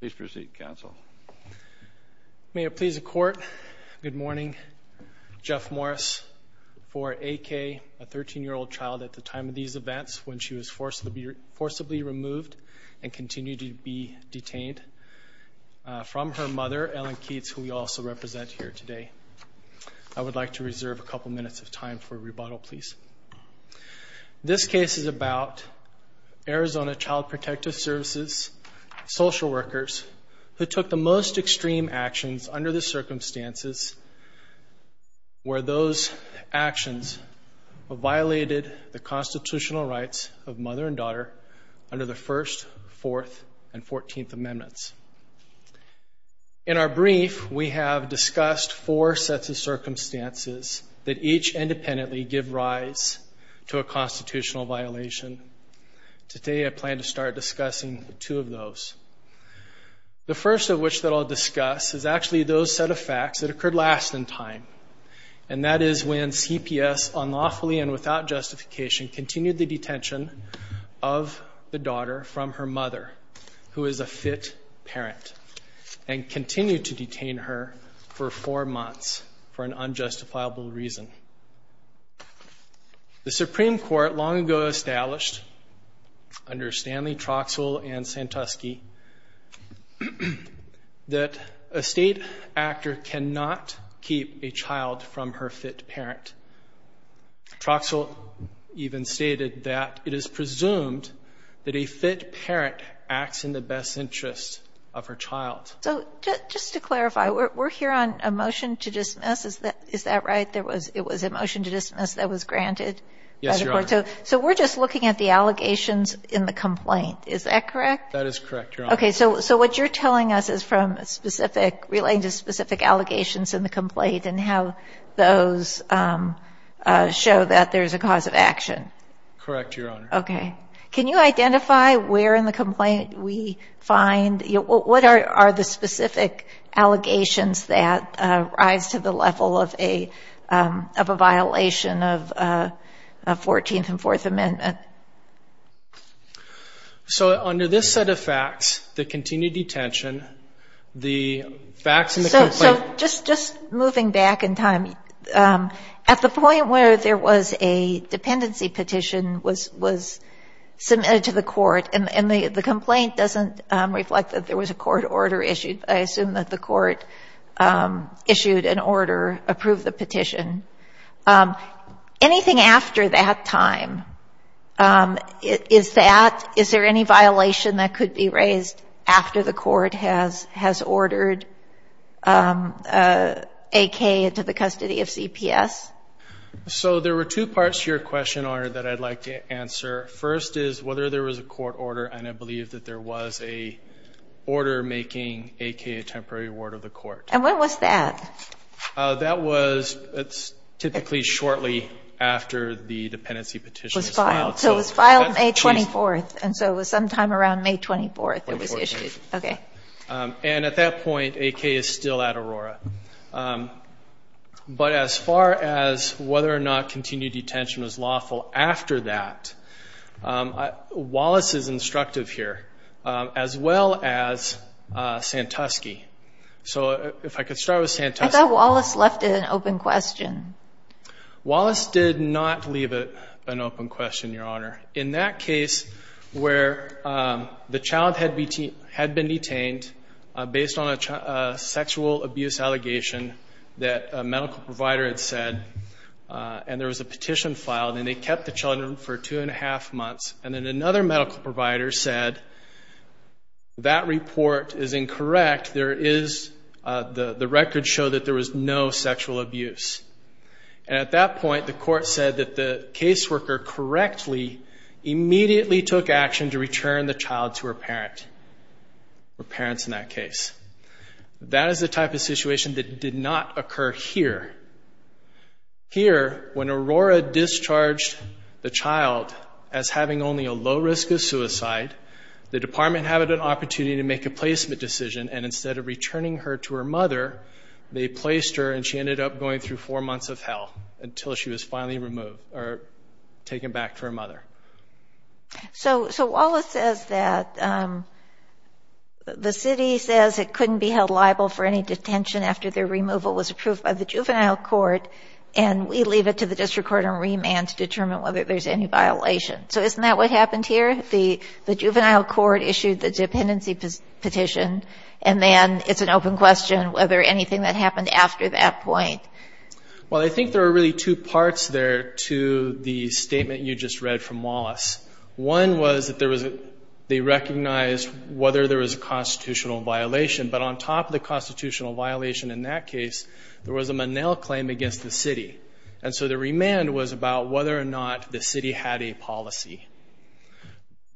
Please proceed, counsel. May it please the court, good morning. Jeff Morris, 4AK, a 13 year old child at the time of these events when she was forcibly removed and continued to be detained from her mother, Ellen Keates, who we also represent here today. I would like to reserve a couple minutes of time for the social workers who took the most extreme actions under the circumstances where those actions violated the constitutional rights of mother and daughter under the first, fourth, and fourteenth amendments. In our brief, we have discussed four sets of circumstances that each independently give rise to a constitutional violation. Today I plan to start discussing the two of those. The first of which that I'll discuss is actually those set of facts that occurred last in time, and that is when CPS unlawfully and without justification continued the detention of the daughter from her mother, who is a fit parent, and continued to detain her for four months for an unjustifiable reason. The Supreme Court long ago established under Stanley Troxell and Santusky that a state actor cannot keep a child from her fit parent. Troxell even stated that it is presumed that a fit parent acts in the best interest of her child. So just to clarify, we're here on a motion to dismiss, is that right? It was a motion to dismiss that was granted? Yes, Your Honor. So we're just looking at the allegations in the complaint, is that correct? That is correct, Your Honor. Okay, so what you're telling us is from specific, relating to specific allegations in the complaint and how those show that there's a cause of action. Correct, Your Honor. Okay. Can you identify where in the complaint we find, what are the specific allegations that rise to the level of a violation of a fourteenth and fourth amendment? So under this set of facts, the continued detention, the facts in the complaint... So just moving back in time, at the point where there was a dependency petition was submitted to the court and the complaint doesn't reflect that there was a court order issued. I assume that the court issued an order at that time. Is that, is there any violation that could be raised after the court has ordered AK into the custody of CPS? So there were two parts to your question, Your Honor, that I'd like to answer. First is whether there was a court order and I believe that there was a order making AK a temporary ward of the So it was filed May 24th and so it was sometime around May 24th it was issued. Okay. And at that point AK is still at Aurora. But as far as whether or not continued detention was lawful after that, Wallace is instructive here, as well as Santusky. So if I could start with Santusky. I thought Wallace left an open question. Wallace did not leave an open question, Your Honor. In that case where the child had been detained based on a sexual abuse allegation that a medical provider had said and there was a petition filed and they kept the children for two and a half months and then another medical provider said that report is incorrect. There is, the records show that there was no sexual abuse. And at that point the court said that the caseworker correctly immediately took action to return the child to her parent or parents in that case. That is the type of situation that did not occur here. Here when Aurora discharged the child as having only a low risk of suicide, the department had an opportunity to make a placement decision and instead of returning her to her parents, she was sent to four months of hell until she was finally removed or taken back to her mother. So Wallace says that the city says it couldn't be held liable for any detention after their removal was approved by the Juvenile Court and we leave it to the District Court on remand to determine whether there's any violation. So isn't that what happened here? The Juvenile Court issued the dependency petition and then it's an open question whether anything that after that point. Well I think there are really two parts there to the statement you just read from Wallace. One was that there was, they recognized whether there was a constitutional violation, but on top of the constitutional violation in that case, there was a Monell claim against the city. And so the remand was about whether or not the city had a policy.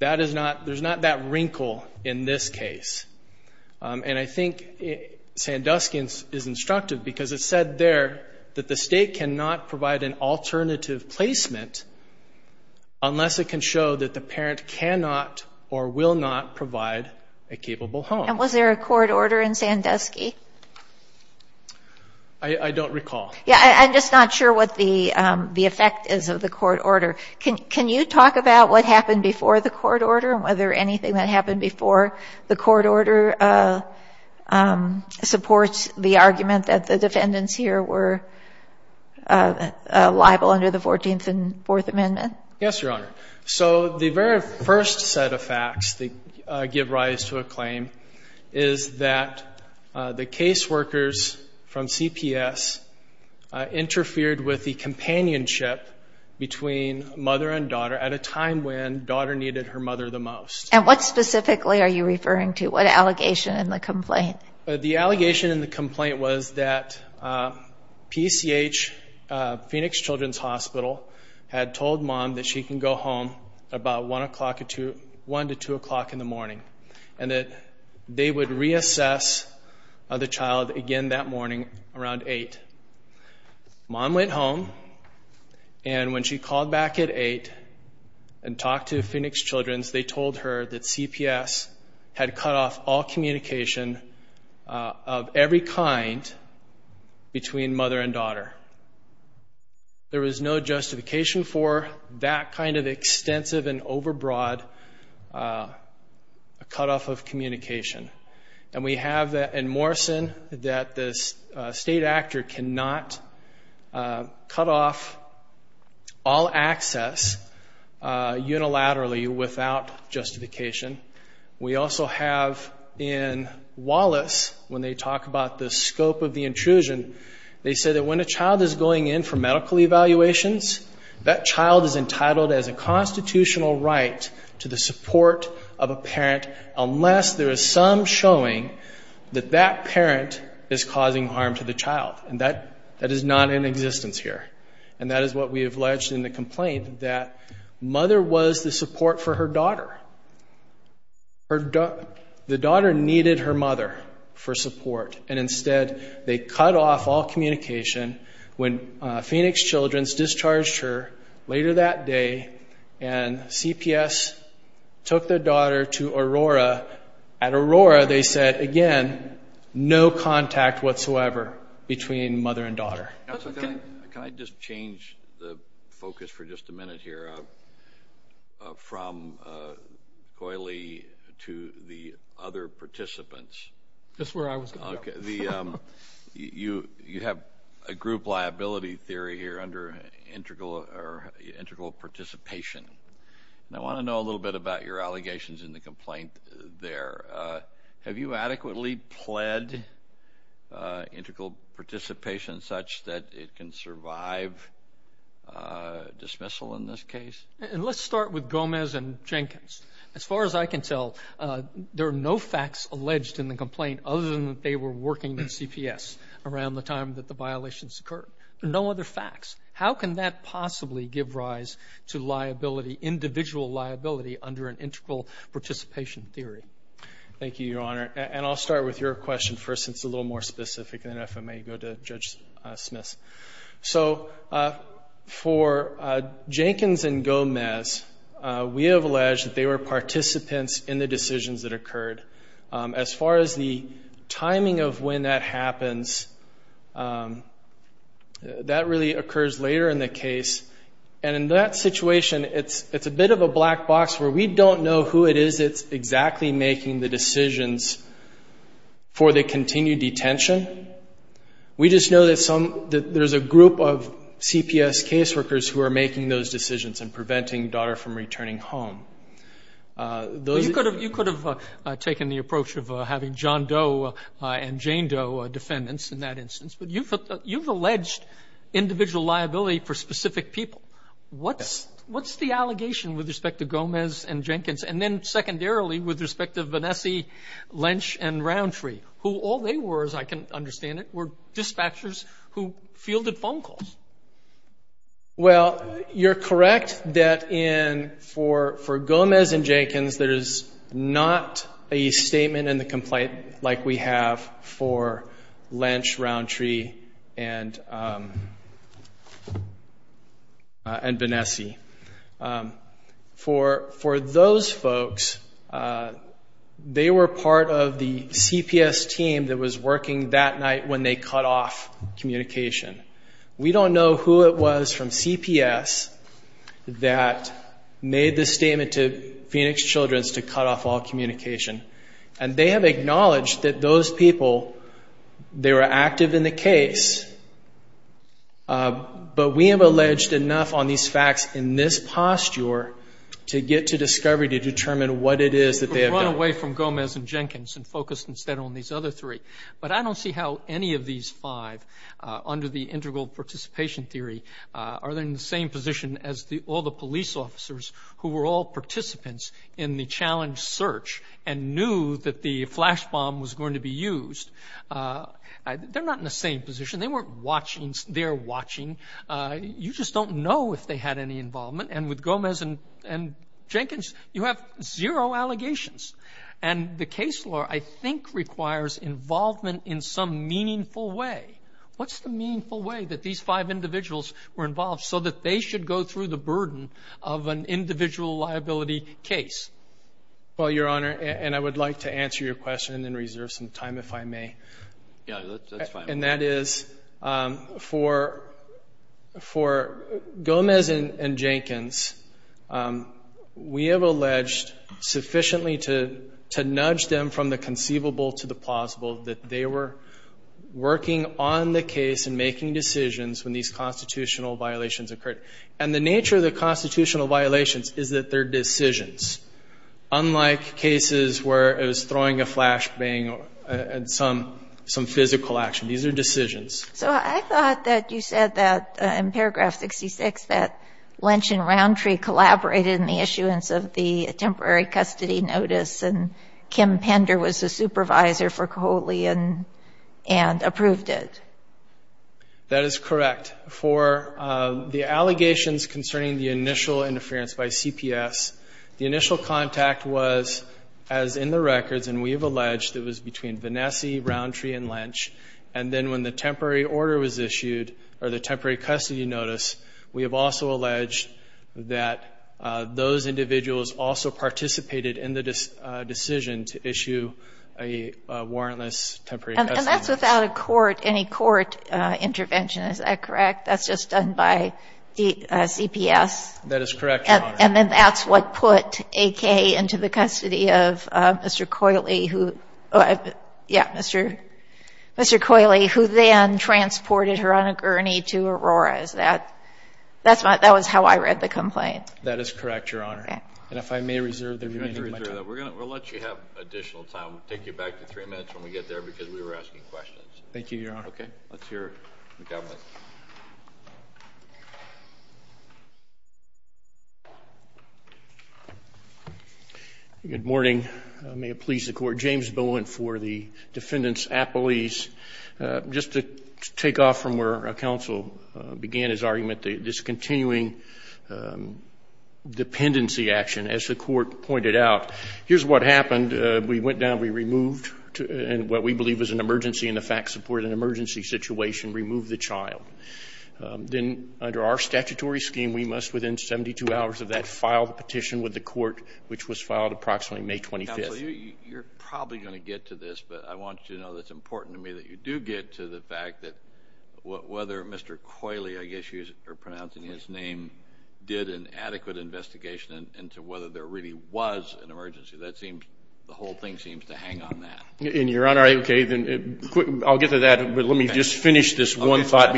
That is not, there's not that because it said there that the state cannot provide an alternative placement unless it can show that the parent cannot or will not provide a capable home. And was there a court order in Sandusky? I don't recall. Yeah, I'm just not sure what the the effect is of the court order. Can you talk about what happened before the court order and whether anything that happened before the court order supports the argument that the defendants here were liable under the 14th and Fourth Amendment? Yes, Your Honor. So the very first set of facts that give rise to a claim is that the caseworkers from CPS interfered with the companionship between mother and daughter at a time when daughter needed her mother the most. And what specifically are you referring to? What allegation in the complaint? The allegation in the complaint was that PCH, Phoenix Children's Hospital, had told mom that she can go home about one o'clock to one to two o'clock in the morning and that they would reassess the child again that morning around eight. Mom went home and when she called back at eight and talked to Phoenix Children's, they told her that CPS had cut off all communication of every kind between mother and daughter. There was no justification for that kind of extensive and overbroad cut off of communication. And we have that in without justification. We also have in Wallace, when they talk about the scope of the intrusion, they say that when a child is going in for medical evaluations, that child is entitled as a constitutional right to the support of a parent unless there is some showing that that parent is causing harm to the child. And that is not in existence here. And that is what we have alleged in the complaint, that mother was the support for her daughter. The daughter needed her mother for support and instead they cut off all communication when Phoenix Children's discharged her later that day and CPS took their daughter to Aurora. At Aurora, they said, again, no contact whatsoever between mother and daughter. Can I just change the focus for just a minute here from Coyley to the other participants? That's where I was. Okay, you have a group liability theory here under integral or integral participation. I want to know a little bit about your allegations in the complaint there. Have you adequately pled integral participation such that it can survive, uh, dismissal in this case? And let's start with Gomez and Jenkins. As far as I can tell, there are no facts alleged in the complaint other than that they were working in CPS around the time that the violations occurred. No other facts. How can that possibly give rise to liability, individual liability under an integral participation theory? Thank you, Your Honor. And I'll start with your question first. It's a little more specific than if I may go to Judge Smith. So, uh, for Jenkins and Gomez, we have alleged that they were participants in the decisions that occurred. Um, as far as the timing of when that happens, um, that really occurs later in the case. And in that is it's exactly making the decisions for the continued detention. We just know that some, that there's a group of CPS caseworkers who are making those decisions and preventing daughter from returning home. Uh, those could have, you could have taken the approach of having John Doe and Jane Doe defendants in that instance, but you've, you've alleged individual liability for specific people. What's, what's the allegation with respect to secondarily, with respect to Vanessie, Lynch and Roundtree, who all they were, as I can understand it, were dispatchers who fielded phone calls? Well, you're correct that in, for, for Gomez and Jenkins, there is not a statement in the complaint like we have for Lynch, Roundtree and, um, uh, and Vanessie. Um, for, for those folks, uh, they were part of the CPS team that was working that night when they cut off communication. We don't know who it was from CPS that made the statement to Phoenix Children's to cut off all communication. And they have acknowledged that those people, they were active in the case. Uh, but we have alleged enough on these facts in this posture to get to discovery, to determine what it is that they have done. We've run away from Gomez and Jenkins and focused instead on these other three. But I don't see how any of these five, uh, under the integral participation theory, uh, are they in the same position as the, all the police officers who were all participants in the challenge search and knew that the flash bomb was going to be used. Uh, they're not in the same position. They weren't watching. They're watching. Uh, you just don't know if they had any involvement. And with Gomez and, and Jenkins, you have zero allegations. And the case law, I think, requires involvement in some meaningful way. What's the meaningful way that these five individuals were involved so that they should go through the burden of an individual liability case? Well, Your Honor, and I would like to answer your question and then reserve some time if I may. Yeah, that's fine. And that is, um, for, for Gomez and Jenkins, um, we have alleged sufficiently to, to nudge them from the conceivable to the plausible that they were working on the case and making decisions when these constitutional violations occurred. And the nature of the constitutional violations is that they're decisions. Unlike cases where it was throwing a some physical action. These are decisions. So I thought that you said that in paragraph 66, that Lynch and Roundtree collaborated in the issuance of the temporary custody notice and Kim Pender was a supervisor for Coley and, and approved it. That is correct. For, uh, the allegations concerning the initial interference by CPS, the initial contact was as in the records, and we have Vanessa, Roundtree, and Lynch. And then when the temporary order was issued or the temporary custody notice, we have also alleged that, uh, those individuals also participated in the, uh, decision to issue a, uh, warrantless temporary custody notice. And that's without a court, any court, uh, intervention. Is that correct? That's just done by the, uh, CPS? That is correct, Your Honor. And then that's what put AK into the custody of, uh, Mr. Coley, who, uh, yeah, Mr., Mr. Coley, who then transported her on a gurney to Aurora. Is that, that's not, that was how I read the complaint. That is correct, Your Honor. And if I may reserve the remaining time. We're going to, we'll let you have additional time. We'll take you back to three minutes when we get there because we were asking questions. Thank you, Your Honor. Okay. Let's hear the government. Good morning. May it please the court. James Bowen for the defendant's appellees. Uh, just to take off from where counsel began his argument, this continuing, um, dependency action, as the court pointed out, here's what happened. Uh, we went down, we removed and what we believe was an emergency in the fact support, an emergency situation, removed the child. Um, then under our statutory scheme, we must within 72 hours of that file petition with the court, which was filed approximately May 25th. You're probably going to get to this, but I want you to know that's important to me that you do get to the fact that whether Mr. Coley, I guess you are pronouncing his name, did an adequate investigation into whether there really was an emergency. That seems the whole thing seems to hang on that in your honor. Okay, then I'll get to that. But let me just finish this one thought.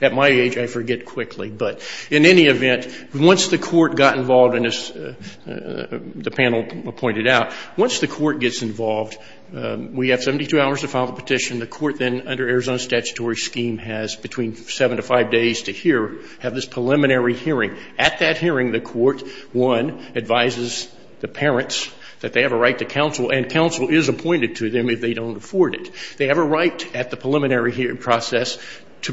At my age, I forget quickly, but in any event, once the court got involved in this, uh, uh, the panel pointed out, once the court gets involved, um, we have 72 hours to file the petition. The court then under Arizona's statutory scheme has between seven to five days to hear, have this preliminary hearing. At that hearing, the court, one, advises the parents that they have a right to counsel and counsel is appointed to them if they don't afford it. They have a right at the preliminary hearing process to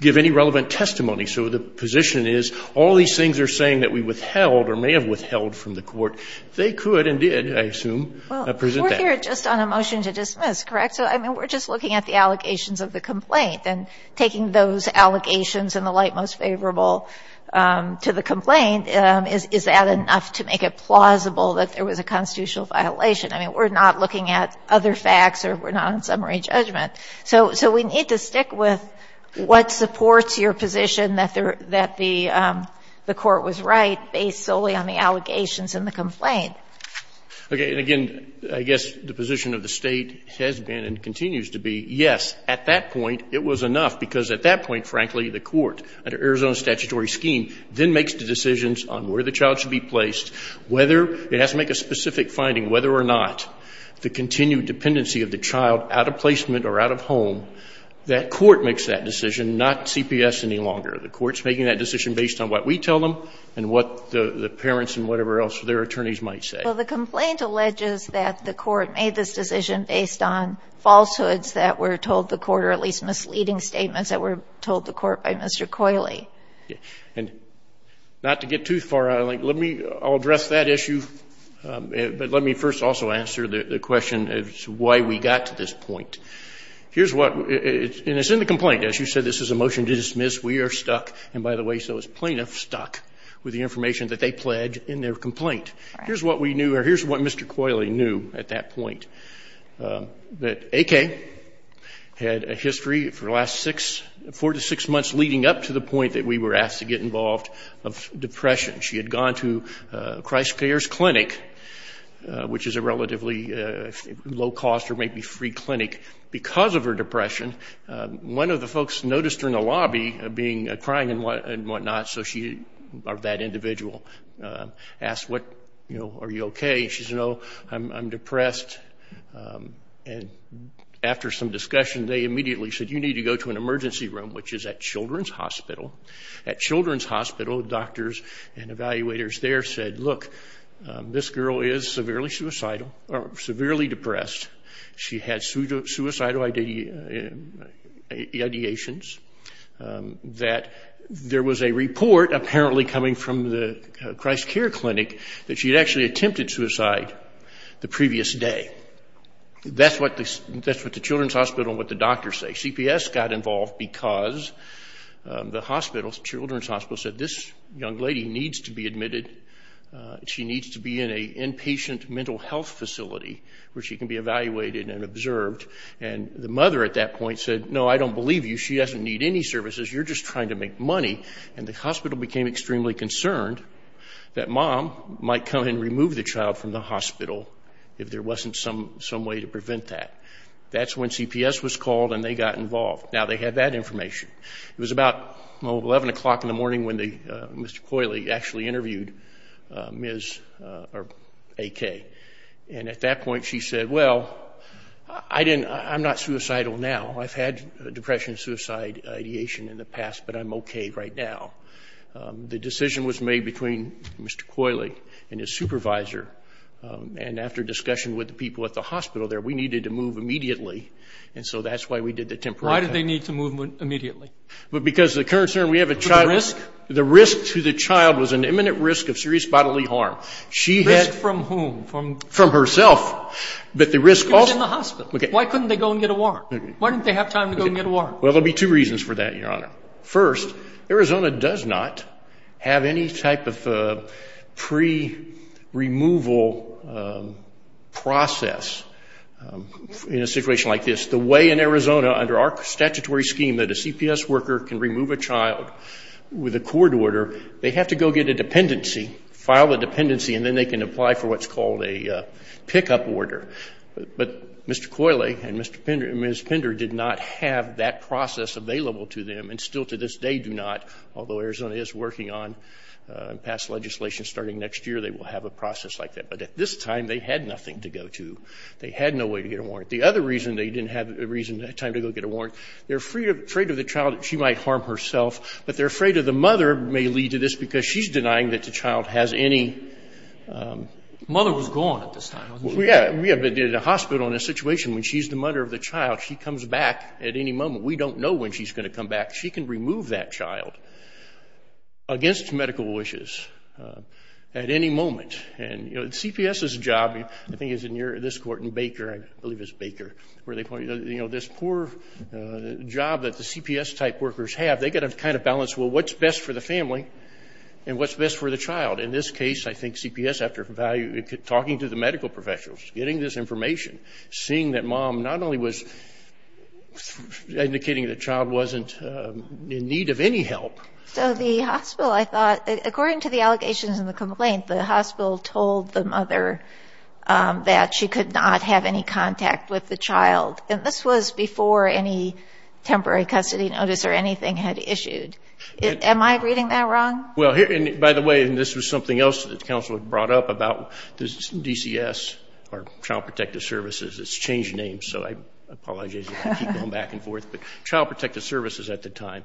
give any relevant testimony. So the position is all these things are saying that we withheld or may have withheld from the court. They could and did, I assume, present that. Well, we're here just on a motion to dismiss, correct? So, I mean, we're just looking at the allegations of the complaint. And taking those allegations in the light most favorable, um, to the complaint, um, is, is that enough to make it plausible that there was a constitutional violation? I mean, we're not looking at other facts or we're not on summary judgment. So, so we need to stick with what supports your position that there, that the, um, the court was right based solely on the allegations in the complaint. Okay. And again, I guess the position of the State has been and continues to be, yes, at that point it was enough because at that point, frankly, the court under Arizona's statutory scheme then makes the decisions on where the child should be placed, whether it has to make a specific finding, whether or not the continued dependency of the child out of placement or out of home. That court makes that decision, not CPS any longer. The court's making that decision based on what we tell them and what the, the parents and whatever else, their attorneys might say. Well, the complaint alleges that the court made this decision based on falsehoods that were told the court, or at least misleading statements that were told the court by Mr. Coyley. Yeah. And not to get too far out of the link, let me, I'll address that issue. But let me first also answer the question as to why we got to this point. Here's what, and it's in the complaint, as you said, this is a motion to dismiss. We are stuck. And by the way, so is plaintiff stuck with the information that they pledged in their complaint. Here's what we knew, or here's what Mr. Coyley knew at that point, that AK had a history for the last six, four to six months leading up to the point that we were asked to get involved of depression. She had gone to Christ Care's clinic, which is a relatively low cost or maybe free clinic because of her depression. One of the folks noticed her in the lobby being, crying and whatnot. So she, or that individual, asked what, you know, are you okay? She said, no, I'm depressed. And after some discussion, they immediately said, you need to go to an emergency room, which is at Children's Hospital. At that point, this girl is severely suicidal or severely depressed. She had suicidal ideations that there was a report apparently coming from the Christ Care clinic that she had actually attempted suicide the previous day. That's what the Children's Hospital and what the doctors say. CPS got involved because the hospital, the Children's Hospital, said this young woman, she needs to be in an inpatient mental health facility where she can be evaluated and observed. And the mother at that point said, no, I don't believe you. She doesn't need any services. You're just trying to make money. And the hospital became extremely concerned that mom might come and remove the child from the hospital if there wasn't some way to prevent that. That's when CPS was called and they got involved. Now they had that information. It was about 11 o'clock in the morning when Mr. Coyley actually interviewed Ms. AK. And at that point, she said, well, I didn't, I'm not suicidal now. I've had depression, suicide ideation in the past, but I'm okay right now. The decision was made between Mr. Coyley and his supervisor. And after discussion with the people at the hospital there, we needed to move immediately. And so that's why we did the temporary. Why did they need to move immediately? Because the current concern, we have a child. The risk? The risk to the child was an imminent risk of serious bodily harm. She had Risk from whom? From herself. But the risk also She was in the hospital. Why couldn't they go and get a warrant? Why didn't they have time to go and get a warrant? Well, there'll be two reasons for that, Your Honor. First, Arizona does not have any type of pre-removal process in a situation like this. The way in Arizona under our statutory scheme that a CPS worker can remove a child with a court order, they have to go get a dependency, file a dependency, and then they can apply for what's called a pickup order. But Mr. Coyley and Ms. Pender did not have that process available to them and still to this day do not. Although Arizona is working on and passed legislation starting next year, they will have a process like that. But at this time, they had nothing to go to. They had no way to get a warrant. They're afraid of the child. She might harm herself. But they're afraid that the mother may lead to this because she's denying that the child has any Mother was gone at this time. Yeah. We have been in a hospital in a situation when she's the mother of the child. She comes back at any moment. We don't know when she's going to come back. She can remove that child against medical wishes at any moment. And, you know, the CPS's job, I think it's in this Court, in Baker, I believe it's Baker, where they point this poor job that the CPS type workers have. They've got to kind of balance, well, what's best for the family and what's best for the child? In this case, I think CPS, after talking to the medical professionals, getting this information, seeing that mom not only was indicating that the child wasn't in need of any help. So the hospital, I thought, according to the allegations in the complaint, the hospital told the mother that she could not have any contact with the child in this situation. This was before any temporary custody notice or anything had issued. Am I reading that wrong? Well, by the way, and this was something else that the Council had brought up about this DCS, or Child Protective Services. It's changed names, so I apologize if I keep going back and forth, but Child Protective Services at the time.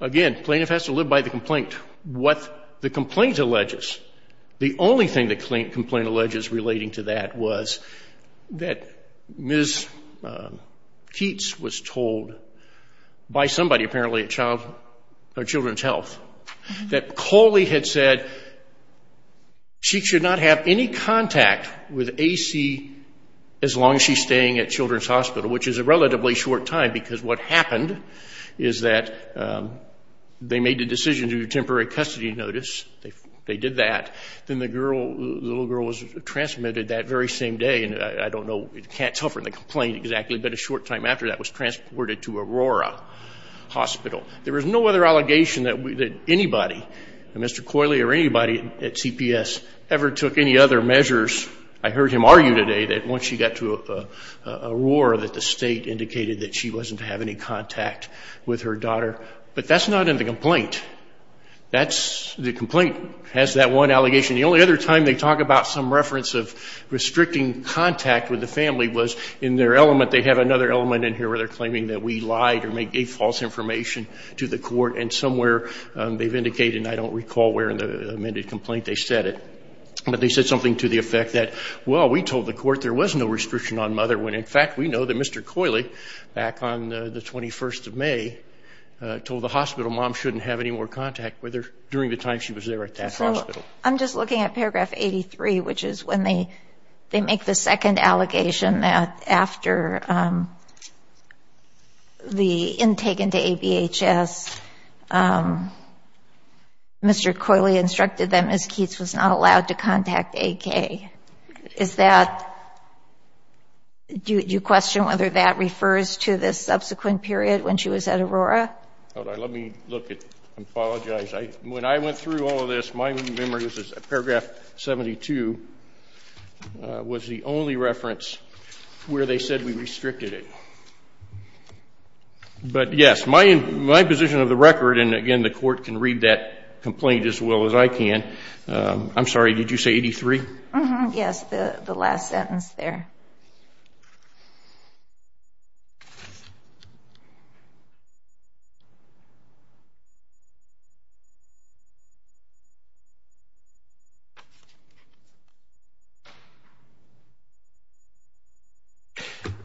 Again, plaintiff has to live by the complaint. What the complaint alleges, the only thing the complaint alleges relating to that was that Ms. Keats was told by somebody, apparently, at Children's Health, that Coley had said she should not have any contact with AC as long as she's staying at Children's Hospital, which is a relatively short time, because what happened is that they made the decision to temporary custody notice. They did that. Then the little girl was transmitted that very same day, and I don't exactly, but a short time after that was transported to Aurora Hospital. There was no other allegation that anybody, Mr. Coley or anybody at CPS, ever took any other measures. I heard him argue today that once she got to Aurora that the state indicated that she wasn't having any contact with her daughter, but that's not in the complaint. That's, the complaint has that one allegation. The only other time they talk about some reference of restricting contact with the family was in their element. They have another element in here where they're claiming that we lied or gave false information to the court, and somewhere they've indicated, and I don't recall where in the amended complaint they said it, but they said something to the effect that, well, we told the court there was no restriction on mother when, in fact, we know that Mr. Coley, back on the 21st of May, told the hospital mom shouldn't have any more contact with her during the time she was there at that hospital. I'm just looking at that allegation that after the intake into ABHS, Mr. Coley instructed that Ms. Keats was not allowed to contact AK. Is that, do you question whether that refers to this subsequent period when she was at Aurora? Let me look at, I apologize. When I went through all of this, my memory, this is paragraph 72, was the only reference where they said we restricted it. But yes, my position of the record, and again, the court can read that complaint as well as I can. I'm sorry, did you say 83? Yes, the last sentence there.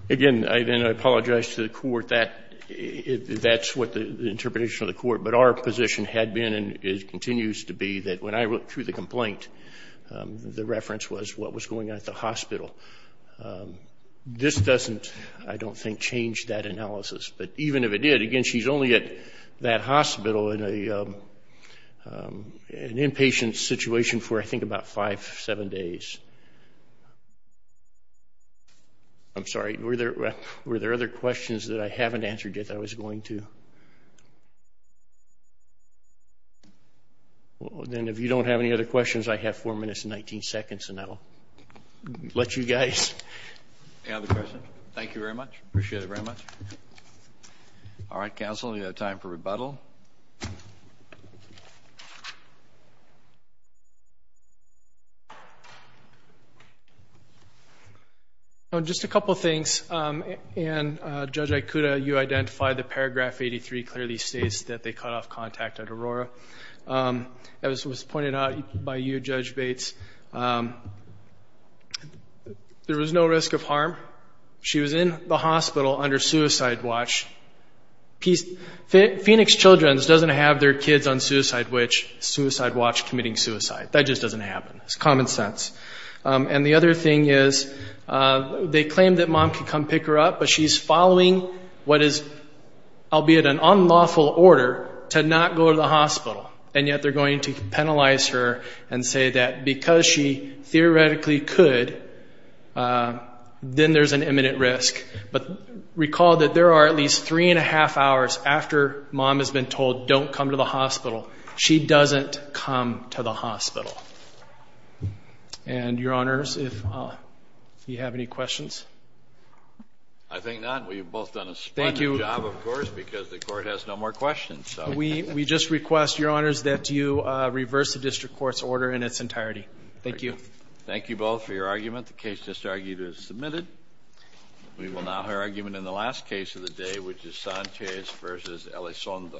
Again, I apologize to the court. That's what the interpretation of the court, but our position had been and continues to be that when I went through the complaint, the reference was what was going on at the hospital. This doesn't, I don't think, change that analysis. But even if it did, again, she's only at that I'm sorry, were there other questions that I haven't answered yet that I was going to? Then if you don't have any other questions, I have four minutes and 19 seconds and I'll let you guys. Any other questions? Thank you very much. Appreciate it very much. All right, counsel, we have time for rebuttal. Just a couple things, and Judge Ikuda, you identified the paragraph 83 clearly states that they cut off contact at Aurora. As was pointed out by you, Judge Bates, there was no risk of harm. She was in the hospital under suicide watch. Phoenix Children's doesn't have their kids on suicide watch committing suicide. That just doesn't happen. It's common sense. And the other thing is, they claim that mom could come pick her up, but she's following what is, albeit an unlawful order, to not go to the hospital. And yet they're going to penalize her and say that because she theoretically could, then there's an imminent risk. But recall that there are at least three and a half hours after mom has been told don't come to the hospital. She doesn't come to the hospital. Do you have any questions? I think not. We've both done a splendid job, of course, because the court has no more questions. We just request, Your Honors, that you reverse the district court's order in its entirety. Thank you. Thank you both for your argument. The case just argued is submitted. We will now hear argument in the last case of the day, which is Sanchez v. Elizondo.